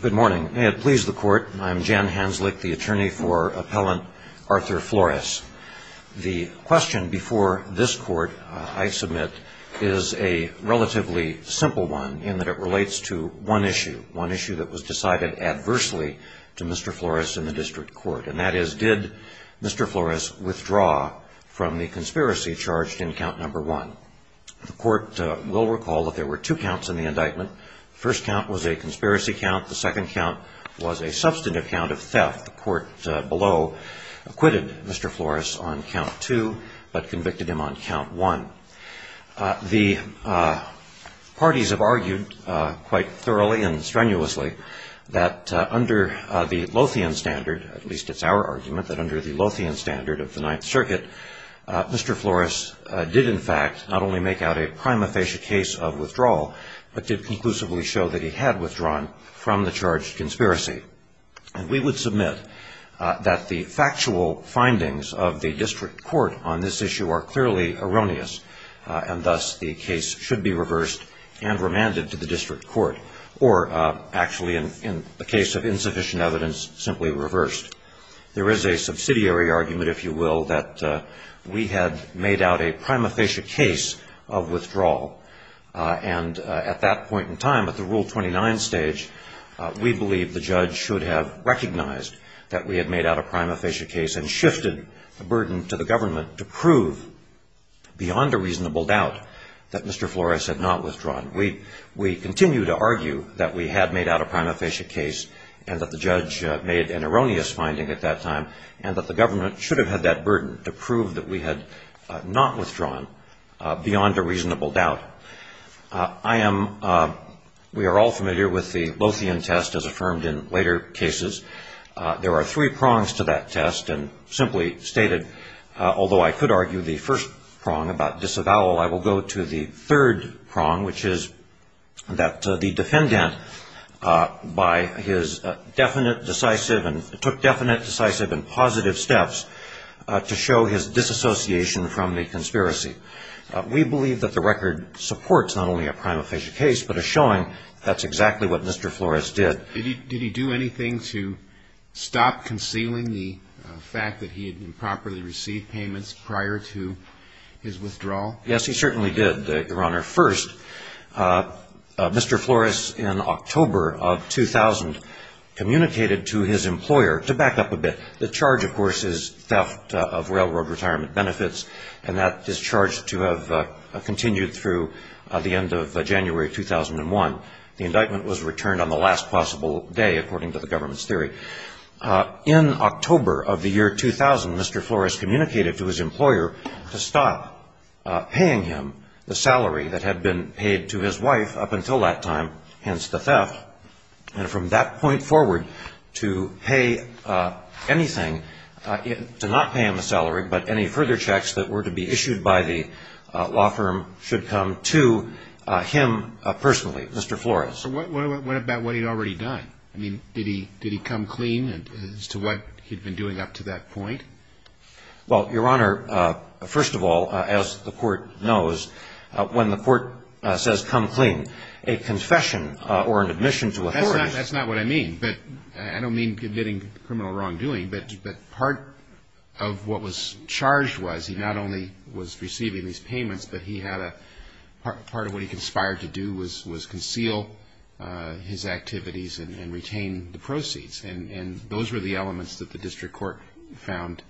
Good morning. May it please the court, I'm Jan Hanzlick, the attorney for appellant Arthur Flores. The question before this court, I submit, is a relatively simple one in that it relates to one issue. One issue that was decided adversely to Mr. Flores in the district court. And that is, did Mr. Flores withdraw from the conspiracy charged in count number one? The court will recall that there were two counts in the indictment. The first count was a conspiracy count, the second count was a substantive count of theft. The court below acquitted Mr. Flores on count two, but convicted him on count one. The parties have argued quite thoroughly and strenuously that under the Lothian standard, at least it's our argument, that under the Lothian standard of the Ninth Circuit, Mr. Flores did in fact not only make out a prima facie case of withdrawal, but did conclusively show that he had withdrawn from the charged conspiracy. And we would submit that the factual findings of the district court on this issue are clearly erroneous, and thus the case should be reversed and remanded to the district court. Or actually, in the case of insufficient evidence, simply reversed. There is a subsidiary argument, if you will, that we had made out a prima facie case of withdrawal. And at that point in time, at the Rule 29 stage, we believe the judge should have recognized that we had made out a prima facie case and shifted the burden to the government to prove beyond a reasonable doubt that Mr. Flores had not withdrawn. We continue to argue that we had made out a prima facie case and that the judge made an erroneous finding at that time, and that the government should have had that burden to prove that we had not withdrawn beyond a reasonable doubt. We are all familiar with the Lothian test as affirmed in later cases. There are three prongs to that test, and simply stated, although I could argue the first prong about disavowal, I will go to the third prong, which is that the defendant by his definite, decisive, and took definite, decisive, and positive steps to show his disassociation from the conspiracy. We believe that the record supports not only a prima facie case, but is showing that's exactly what Mr. Flores did. Did he do anything to stop concealing the fact that he had improperly received payments prior to his withdrawal? Yes, he certainly did, Your Honor. First, Mr. Flores, in October of 2000, communicated to his employer, to back up a bit, the charge, of course, is theft of railroad retirement benefits, and that is charged to have continued through the end of January 2001. The indictment was returned on the last possible day, according to the government's theory. In October of the year 2000, Mr. Flores communicated to his employer to stop paying him the salary that had been paid to his wife up until that time, hence the theft, and from that point forward, to pay anything, to not pay him the salary, but any further checks that were to be issued by the law firm should come to him personally, Mr. Flores. So what about what he'd already done? I mean, did he come clean as to what he'd been doing up to that point? Well, Your Honor, first of all, as the Court knows, when the Court says come clean, a confession or an admission to authority That's not what I mean, but I don't mean committing criminal wrongdoing, but part of what was charged was he not only was receiving these payments, but he had a, part of what he conspired to do was conceal his activities and retain the proceeds, and those were the elements that the District Court found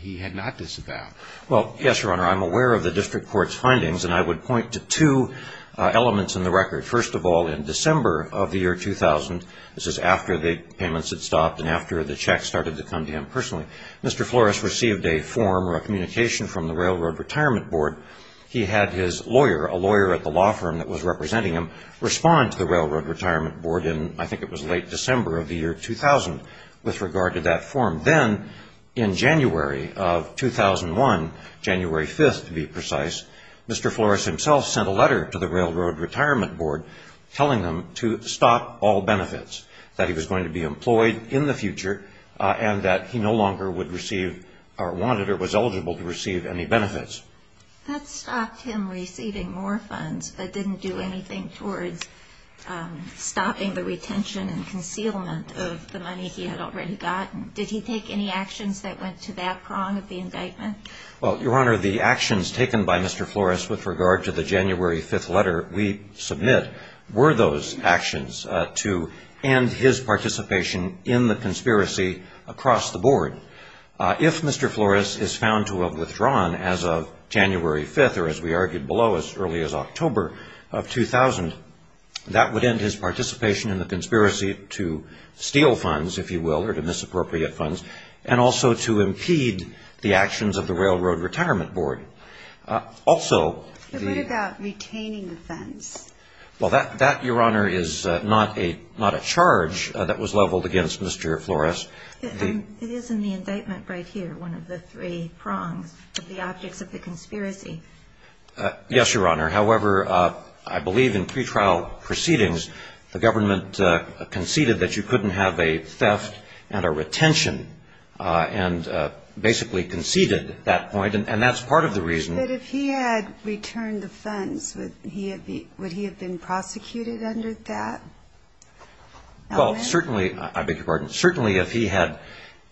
he had not disavowed. Well, yes, Your Honor, I'm aware of the District Court's findings, and I would point to two elements in the record. First of all, in December of the year 2000, this is after the payments had stopped and after the checks started to come to him personally, Mr. Flores received a form or a communication from the Railroad Retirement Board. He had his lawyer, a lawyer at the law firm that was representing him, respond to the Railroad Retirement Board in I think it was late December of the year 2000 with regard to that form. Then in January of 2001, January 5th to be precise, Mr. Flores himself sent a letter to the Railroad Retirement Board telling him to stop all benefits, that he was going to be employed in the future, and that he no longer would receive or wanted or was eligible to receive any benefits. That stopped him receiving more funds, but didn't do anything towards stopping the retention and concealment of the money he had already gotten. Did he take any actions that went to that prong of the indictment? Well, Your Honor, the actions taken by Mr. Flores with regard to the January 5th letter we submit were those actions to end his participation in the conspiracy across the board. If Mr. Flores is found to have withdrawn as of January 5th, or as we argued below as early as October of 2000, that would end his participation in the conspiracy to steal funds, if you will, or to misappropriate funds, and also to impede the actions of the Railroad Retirement Board. But what about retaining the funds? Well, that, Your Honor, is not a charge that was leveled against Mr. Flores. It is in the indictment right here, one of the three prongs of the objects of the conspiracy. Yes, Your Honor. However, I believe in pretrial proceedings, the government conceded that you couldn't have a theft and a retention, and basically conceded at that point, and that's part of the reason. But if he had returned the funds, would he have been prosecuted under that? Well, certainly, I beg your pardon, certainly if he had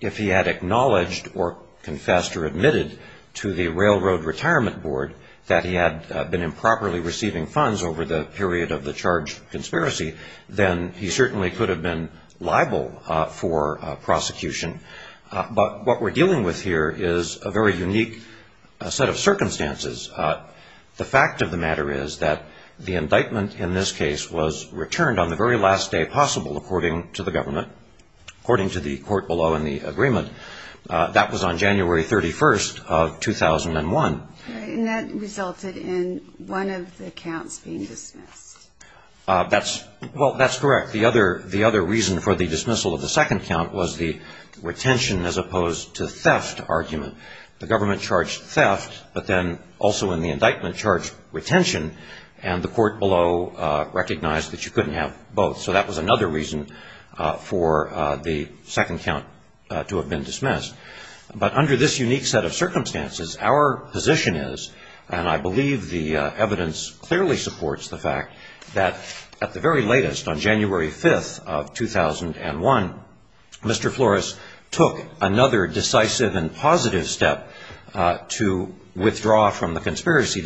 acknowledged or confessed or admitted to the Railroad Retirement Board that he had been improperly receiving funds over the period of the charged conspiracy, then he certainly could have been liable for prosecution. But what we're dealing with here is a very unique set of circumstances. The fact of the matter is that the indictment in this case was returned on the very last day possible, according to the government, according to the court below in the agreement. That was on January 31st of 2001. And that resulted in one of the accounts being dismissed. Well, that's correct. The other reason for the dismissal of the second count was the retention as opposed to theft argument. The government charged theft, but then also in the indictment charged retention, and the court below recognized that you couldn't have both. So that was another reason for the second count to have been dismissed. But under this unique set of circumstances, our position is, And I believe the evidence clearly supports the fact that at the very latest, on January 5th of 2001, Mr. Flores took another decisive and positive step to withdraw from the conspiracy,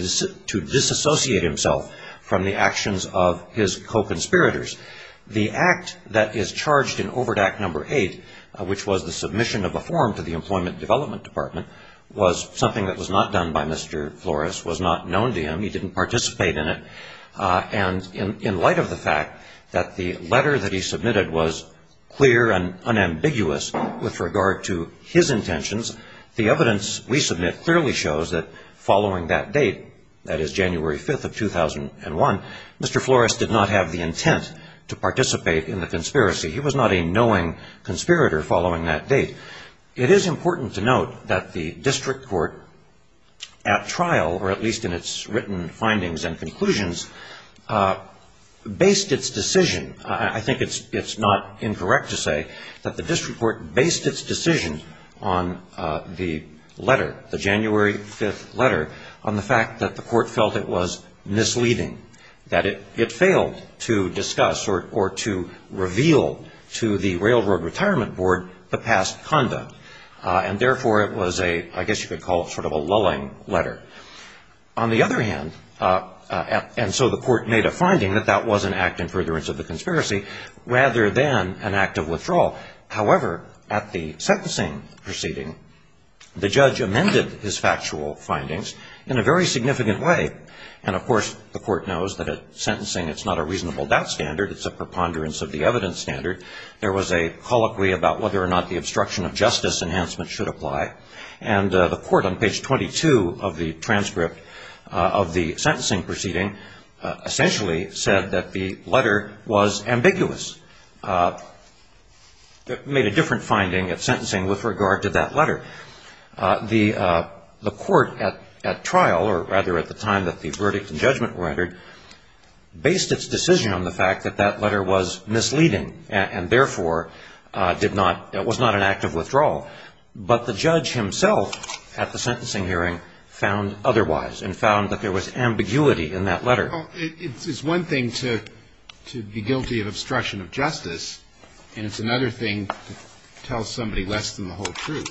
to disassociate himself from the actions of his co-conspirators. The act that is charged in Overt Act No. 8, which was the submission of a form to the Employment Development Department, was something that was not done by Mr. Flores, was not known to him. He didn't participate in it. And in light of the fact that the letter that he submitted was clear and unambiguous with regard to his intentions, the evidence we submit clearly shows that following that date, that is January 5th of 2001, Mr. Flores did not have the intent to participate in the conspiracy. He was not a knowing conspirator following that date. It is important to note that the district court, at trial, or at least in its written findings and conclusions, based its decision, I think it's not incorrect to say, that the district court based its decision on the letter, the January 5th letter, on the fact that the court felt it was misleading, that it failed to discuss or to reveal to the Railroad Retirement Board the past conduct. And therefore, it was a, I guess you could call it sort of a lulling letter. On the other hand, and so the court made a finding that that was an act in furtherance of the conspiracy, rather than an act of withdrawal. However, at the sentencing proceeding, the judge amended his factual findings in a very significant way. And of course, the court knows that at sentencing, it's not a reasonable doubt standard. It's a preponderance of the evidence standard. There was a colloquy about whether or not the obstruction of justice enhancement should apply. And the court on page 22 of the transcript of the sentencing proceeding essentially said that the letter was ambiguous. It made a different finding at sentencing with regard to that letter. The court at trial, or rather at the time that the verdict and judgment were rendered, based its decision on the fact that that letter was misleading and therefore was not an act of withdrawal. But the judge himself at the sentencing hearing found otherwise and found that there was ambiguity in that letter. It's one thing to be guilty of obstruction of justice, and it's another thing to tell somebody less than the whole truth.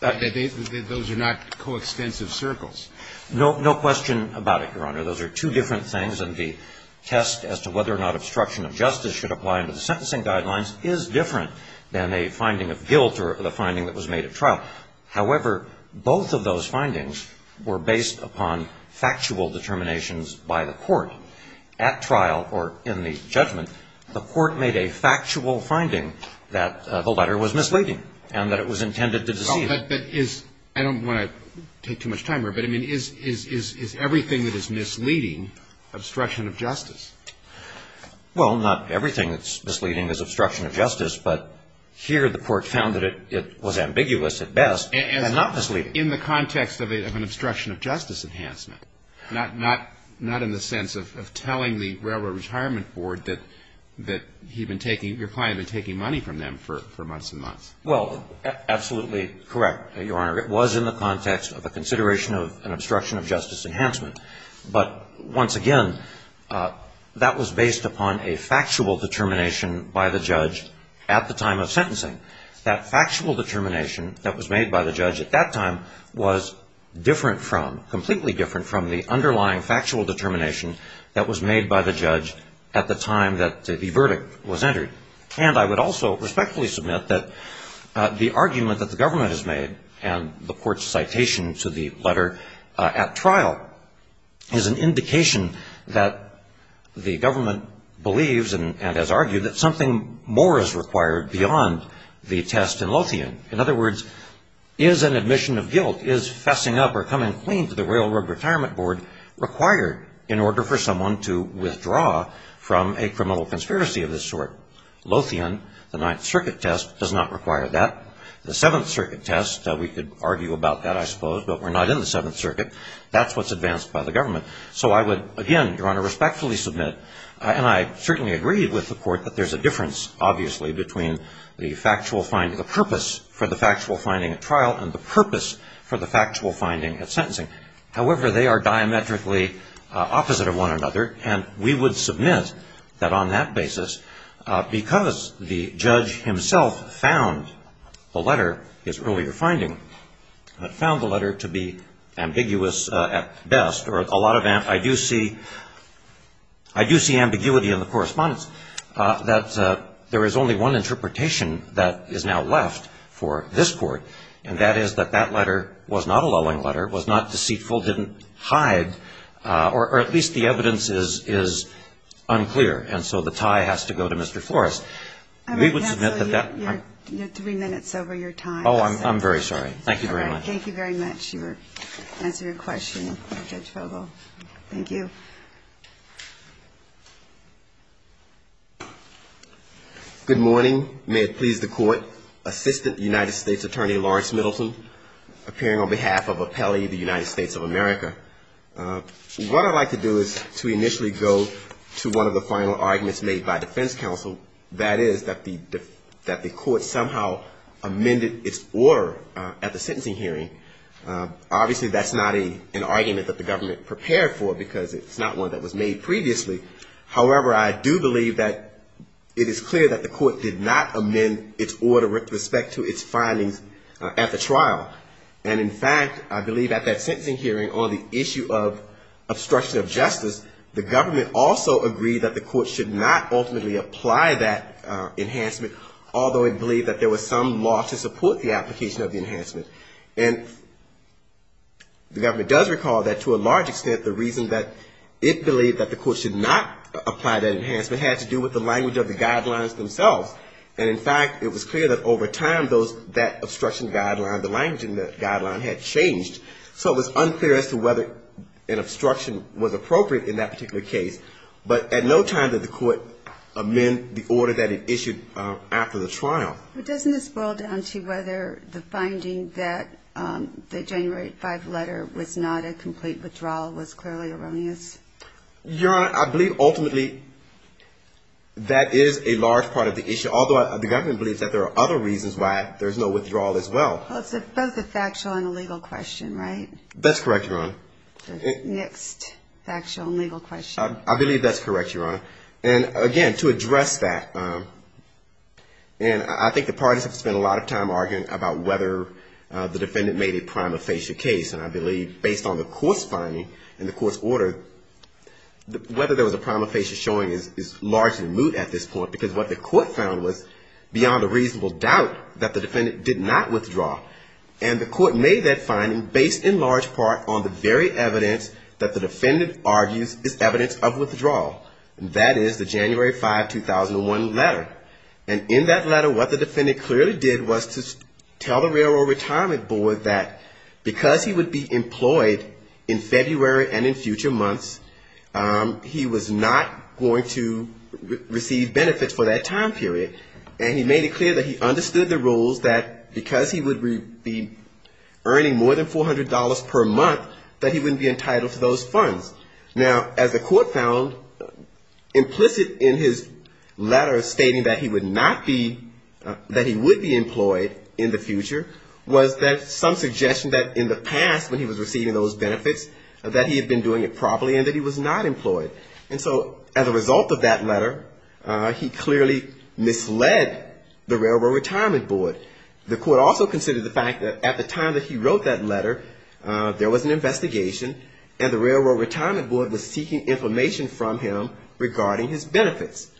Those are not coextensive circles. No question about it, Your Honor. Those are two different things. And the test as to whether or not obstruction of justice should apply under the sentencing guidelines is different than a finding of guilt or the finding that was made at trial. However, both of those findings were based upon factual determinations by the court. So at trial or in the judgment, the court made a factual finding that the letter was misleading and that it was intended to deceive. But is, I don't want to take too much time here, but, I mean, is everything that is misleading obstruction of justice? Well, not everything that's misleading is obstruction of justice, but here the court found that it was ambiguous at best and not misleading. In the context of an obstruction of justice enhancement, not in the sense of telling the Railroad Retirement Board that he'd been taking, your client had been taking money from them for months and months. Well, absolutely correct, Your Honor. It was in the context of a consideration of an obstruction of justice enhancement. But once again, that was based upon a factual determination by the judge at the time of sentencing. That factual determination that was made by the judge at that time was different from, completely different from the underlying factual determination that was made by the judge at the time that the verdict was entered. And I would also respectfully submit that the argument that the government has made and the court's citation to the letter at trial is an indication that the government believes and has argued that something more is required beyond the test in Lothian. In other words, is an admission of guilt, is fessing up or coming clean to the Railroad Retirement Board required in order for someone to withdraw from a criminal conspiracy of this sort? Lothian, the Ninth Circuit test, does not require that. The Seventh Circuit test, we could argue about that, I suppose, but we're not in the Seventh Circuit. That's what's advanced by the government. So I would, again, Your Honor, respectfully submit, and I certainly agree with the court, that there's a difference, obviously, between the purpose for the factual finding at trial and the purpose for the factual finding at sentencing. However, they are diametrically opposite of one another, and we would submit that on that basis, because the judge himself found the letter, his earlier finding, found the letter to be ambiguous at best, or a lot of, I do see ambiguity in the correspondence, that there is only one interpretation that is now left for this Court, and that is that that letter was not a lulling letter, was not deceitful, didn't hide, or at least the evidence is unclear, and so the tie has to go to Mr. Flores. We would submit that that... I would cancel your three minutes over your time. Oh, I'm very sorry. Thank you very much. All right. Thank you very much for answering the question, Judge Vogel. Thank you. Good morning. May it please the Court. Assistant United States Attorney Lawrence Middleton, appearing on behalf of Appellee of the United States of America. What I'd like to do is to initially go to one of the final arguments made by defense counsel, and that is that the Court somehow amended its order at the sentencing hearing. Obviously, that's not an argument that the government prepared for because it's not one that was made previously. However, I do believe that it is clear that the Court did not amend its order with respect to its findings at the trial, and in fact, I believe at that sentencing hearing on the issue of obstruction of justice, the government also agreed that the Court should not ultimately apply that enhancement, although it believed that there was some law to support the application of the enhancement. And the government does recall that to a large extent the reason that it believed that the Court should not apply that enhancement had to do with the language of the guidelines themselves. And in fact, it was clear that over time that obstruction guideline, the language in the guideline had changed. So it was unclear as to whether an obstruction was appropriate in that particular case, but at no time did the Court amend the order that it issued after the trial. But doesn't this boil down to whether the finding that the January 5 letter was not a complete withdrawal was clearly erroneous? Your Honor, I believe ultimately that is a large part of the issue, although the government believes that there are other reasons why there's no withdrawal as well. Well, it's both a factual and a legal question, right? That's correct, Your Honor. Next factual and legal question. I believe that's correct, Your Honor. And again, to address that, and I think the parties have spent a lot of time arguing about whether the defendant made a prima facie case, and I believe based on the Court's finding and the Court's order, whether there was a prima facie showing is largely moot at this point, because what the Court found was beyond a reasonable doubt that the defendant did not withdraw. And the Court made that finding based in large part on the very evidence that the defendant argues is evidence of withdrawal, and that is the January 5, 2001 letter. And in that letter, what the defendant clearly did was to tell the Railroad Retirement Board that because he would be employed in February and in future months, he was not going to receive benefits for that time period. And he made it clear that he understood the rules that because he would be earning more than $400 per month, that he wouldn't be entitled to those funds. Now, as the Court found implicit in his letter stating that he would not be, that he would be employed in the future, was that some suggestion that in the past when he was receiving those benefits, that he had been doing it properly and that he was not employed. And so as a result of that letter, he clearly misled the Railroad Retirement Board. The Court also considered the fact that at the time that he wrote that letter, there was an investigation and the Railroad Retirement Board was seeking information from him regarding his benefits.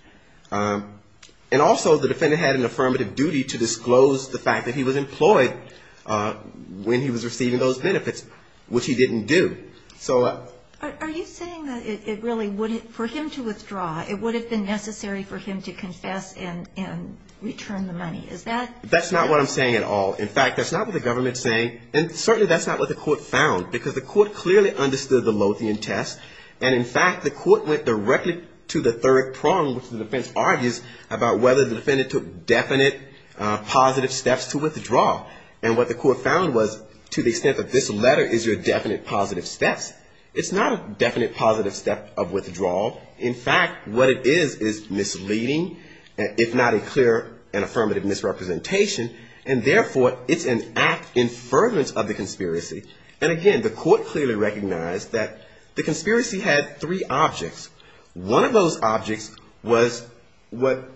And also the defendant had an affirmative duty to disclose the fact that he was employed when he was receiving those benefits, which he didn't do. So... And that's not what the Court found, because the Court clearly understood the Lothian test. And in fact, the Court went directly to the third prong, which the defense argues, about whether the defendant took definite positive steps to withdraw. And what the Court found was to the extent that this letter is your definite positive steps, in fact, what it is, is misleading, if not a clear and affirmative misrepresentation. And therefore, it's an act in fervent of the conspiracy. And again, the Court clearly recognized that the conspiracy had three objects. One of those objects was what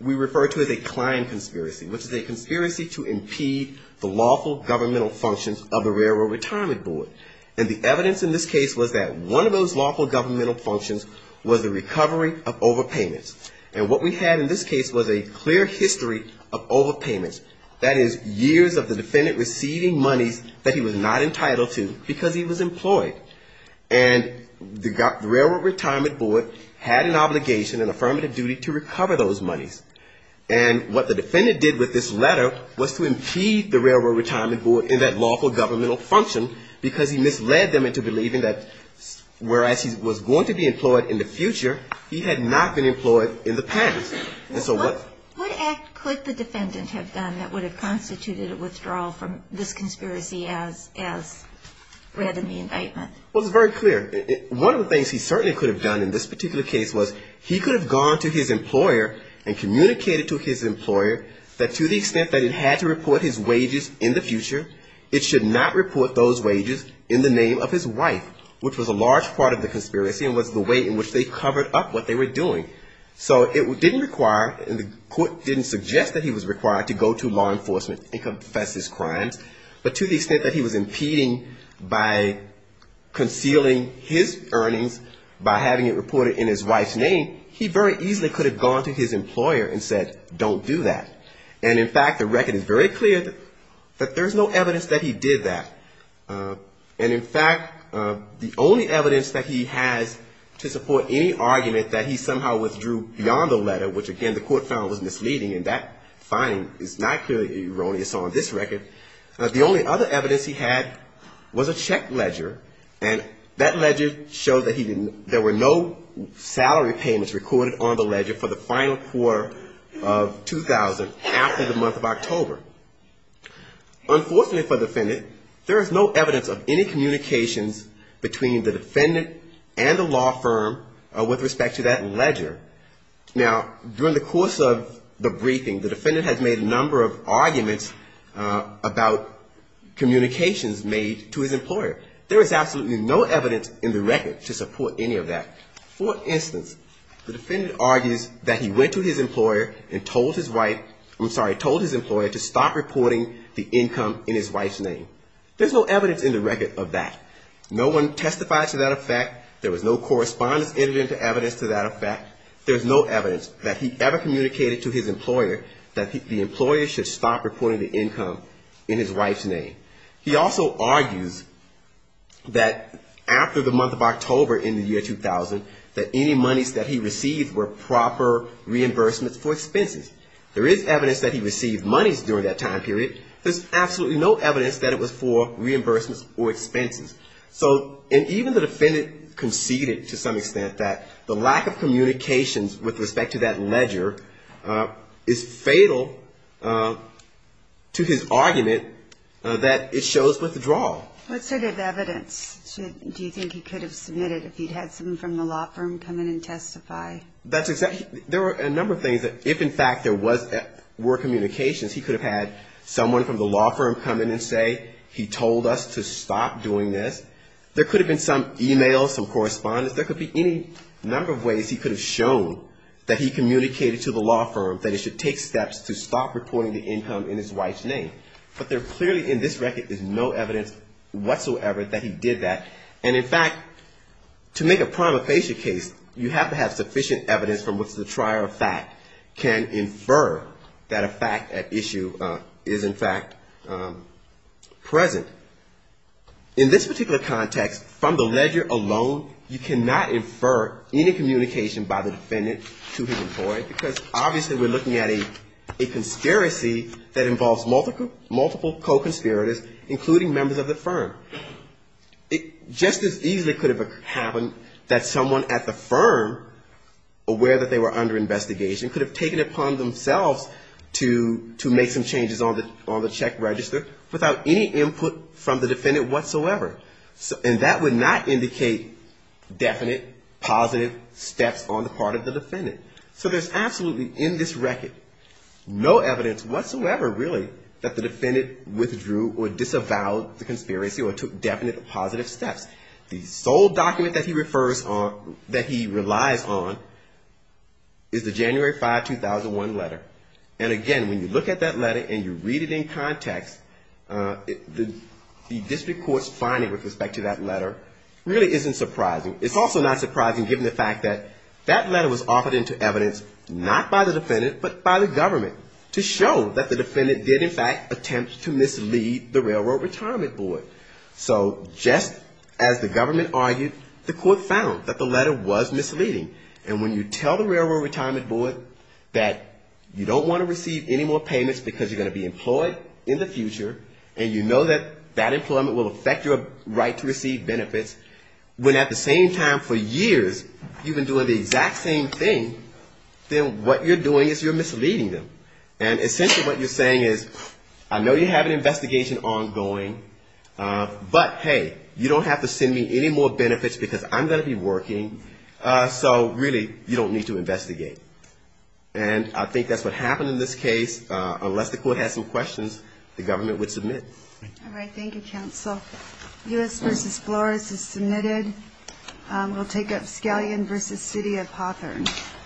we refer to as a Klein conspiracy, which is a conspiracy to impede the lawful governmental functions of the Railroad Retirement Board. And the evidence in this case was that one of those lawful governmental functions was the recovery of overpayments. And what we had in this case was a clear history of overpayments. That is, years of the defendant receiving monies that he was not entitled to because he was employed. And the Railroad Retirement Board had an obligation, an affirmative duty to recover those monies. And what the defendant did with this letter was to impede the Railroad Retirement Board in that lawful governmental function, because he misled them into believing that whereas he was going to be employed in the future, he had not been employed in the past. And so what act could the defendant have done that would have constituted a withdrawal from this conspiracy as read in the indictment? Well, it's very clear. One of the things he certainly could have done in this particular case was he could have gone to his employer and communicated to his employer that to the extent that it had to report his wages in the future, it should not report those wages in the name of his wife, which was a large part of the conspiracy and was the way in which they covered up what they were doing. So it didn't require and the court didn't suggest that he was required to go to law enforcement and confess his crimes. But to the extent that he was impeding by concealing his earnings by having it reported in his wife's name, he very easily could have gone to his employer and said, don't do that. And, in fact, the record is very clear that there's no evidence that he did that. And, in fact, the only evidence that he has to support any argument that he somehow withdrew beyond the letter, which, again, the court found was misleading, and that finding is not clearly erroneous on this record. The only other evidence he had was a check ledger. And that ledger showed that there were no salary payments recorded on the ledger for the final quarter of 2000 after the month of October. Unfortunately for the defendant, there is no evidence of any communications between the defendant and the law firm with respect to that ledger. Now, during the course of the briefing, the defendant has made a number of arguments about communications made to his employer. There is absolutely no evidence in the record to support any of that. For instance, the defendant argues that he went to his employer and told his wife, I'm sorry, told his employer to stop reporting the income in his wife's name. There's no evidence in the record of that. No one testified to that effect. There was no correspondence entered into evidence to that effect. There's no evidence that he ever communicated to his employer that the employer should stop reporting the income in his wife's name. He also argues that after the month of October in the year 2000, that any monies that he received were proper reimbursements for expenses. There is evidence that he received monies during that time period. There's absolutely no evidence that it was for reimbursements or expenses. So and even the defendant conceded to some extent that the lack of communications with respect to that ledger is fatal to his argument that it shows withdrawal. What sort of evidence do you think he could have submitted if he'd had someone from the law firm come in and testify? There are a number of things that if in fact there were communications, he could have had someone from the law firm come in and say he told us to stop doing this. There could have been some e-mails, some correspondence. There could be any number of ways he could have shown that he communicated to the law firm that it should take steps to stop reporting the income in his wife's name. But there clearly in this record is no evidence whatsoever that he did that. And in fact to make a prima facie case, you have to have sufficient evidence from which the trier of fact can infer that a fact at issue is in fact present. In this particular context, from the ledger alone, you cannot infer any communication by the defendant to his employee, because obviously we're looking at a conspiracy that involves multiple co-conspirators, including members of the firm. Just as easily could have happened that someone at the firm aware that they were under investigation could have taken it upon themselves to make some changes on the check register without any input from the defendant whatsoever. And that would not indicate definite positive steps on the part of the defendant. So there's absolutely in this record no evidence whatsoever really that the defendant withdrew or disavowed the conspiracy or took definite positive steps. The sole document that he refers on, that he relies on, is the January 5, 2001 letter. And again, when you look at that letter and you read it in context, the district court's finding with respect to that letter really isn't surprising. It's also not surprising given the fact that that letter was offered into evidence not by the defendant, but by the government to show that the defendant did in fact attempt to mislead the Railroad Retirement Board. So just as the government argued, the court found that the letter was misleading. And when you tell the Railroad Retirement Board that you don't want to receive any more payments because you're going to be employed in the future and you know that that employment will affect your right to receive benefits, when at the same time for years you've been doing the exact same thing, then what you're doing is you're misleading them. And essentially what you're saying is, I know you have an investigation ongoing, but hey, you don't have to send me any more benefits because I'm going to be working, so really you don't need to investigate. And I think that's what happened in this case, unless the court had some questions, the government would submit. All right, thank you, counsel.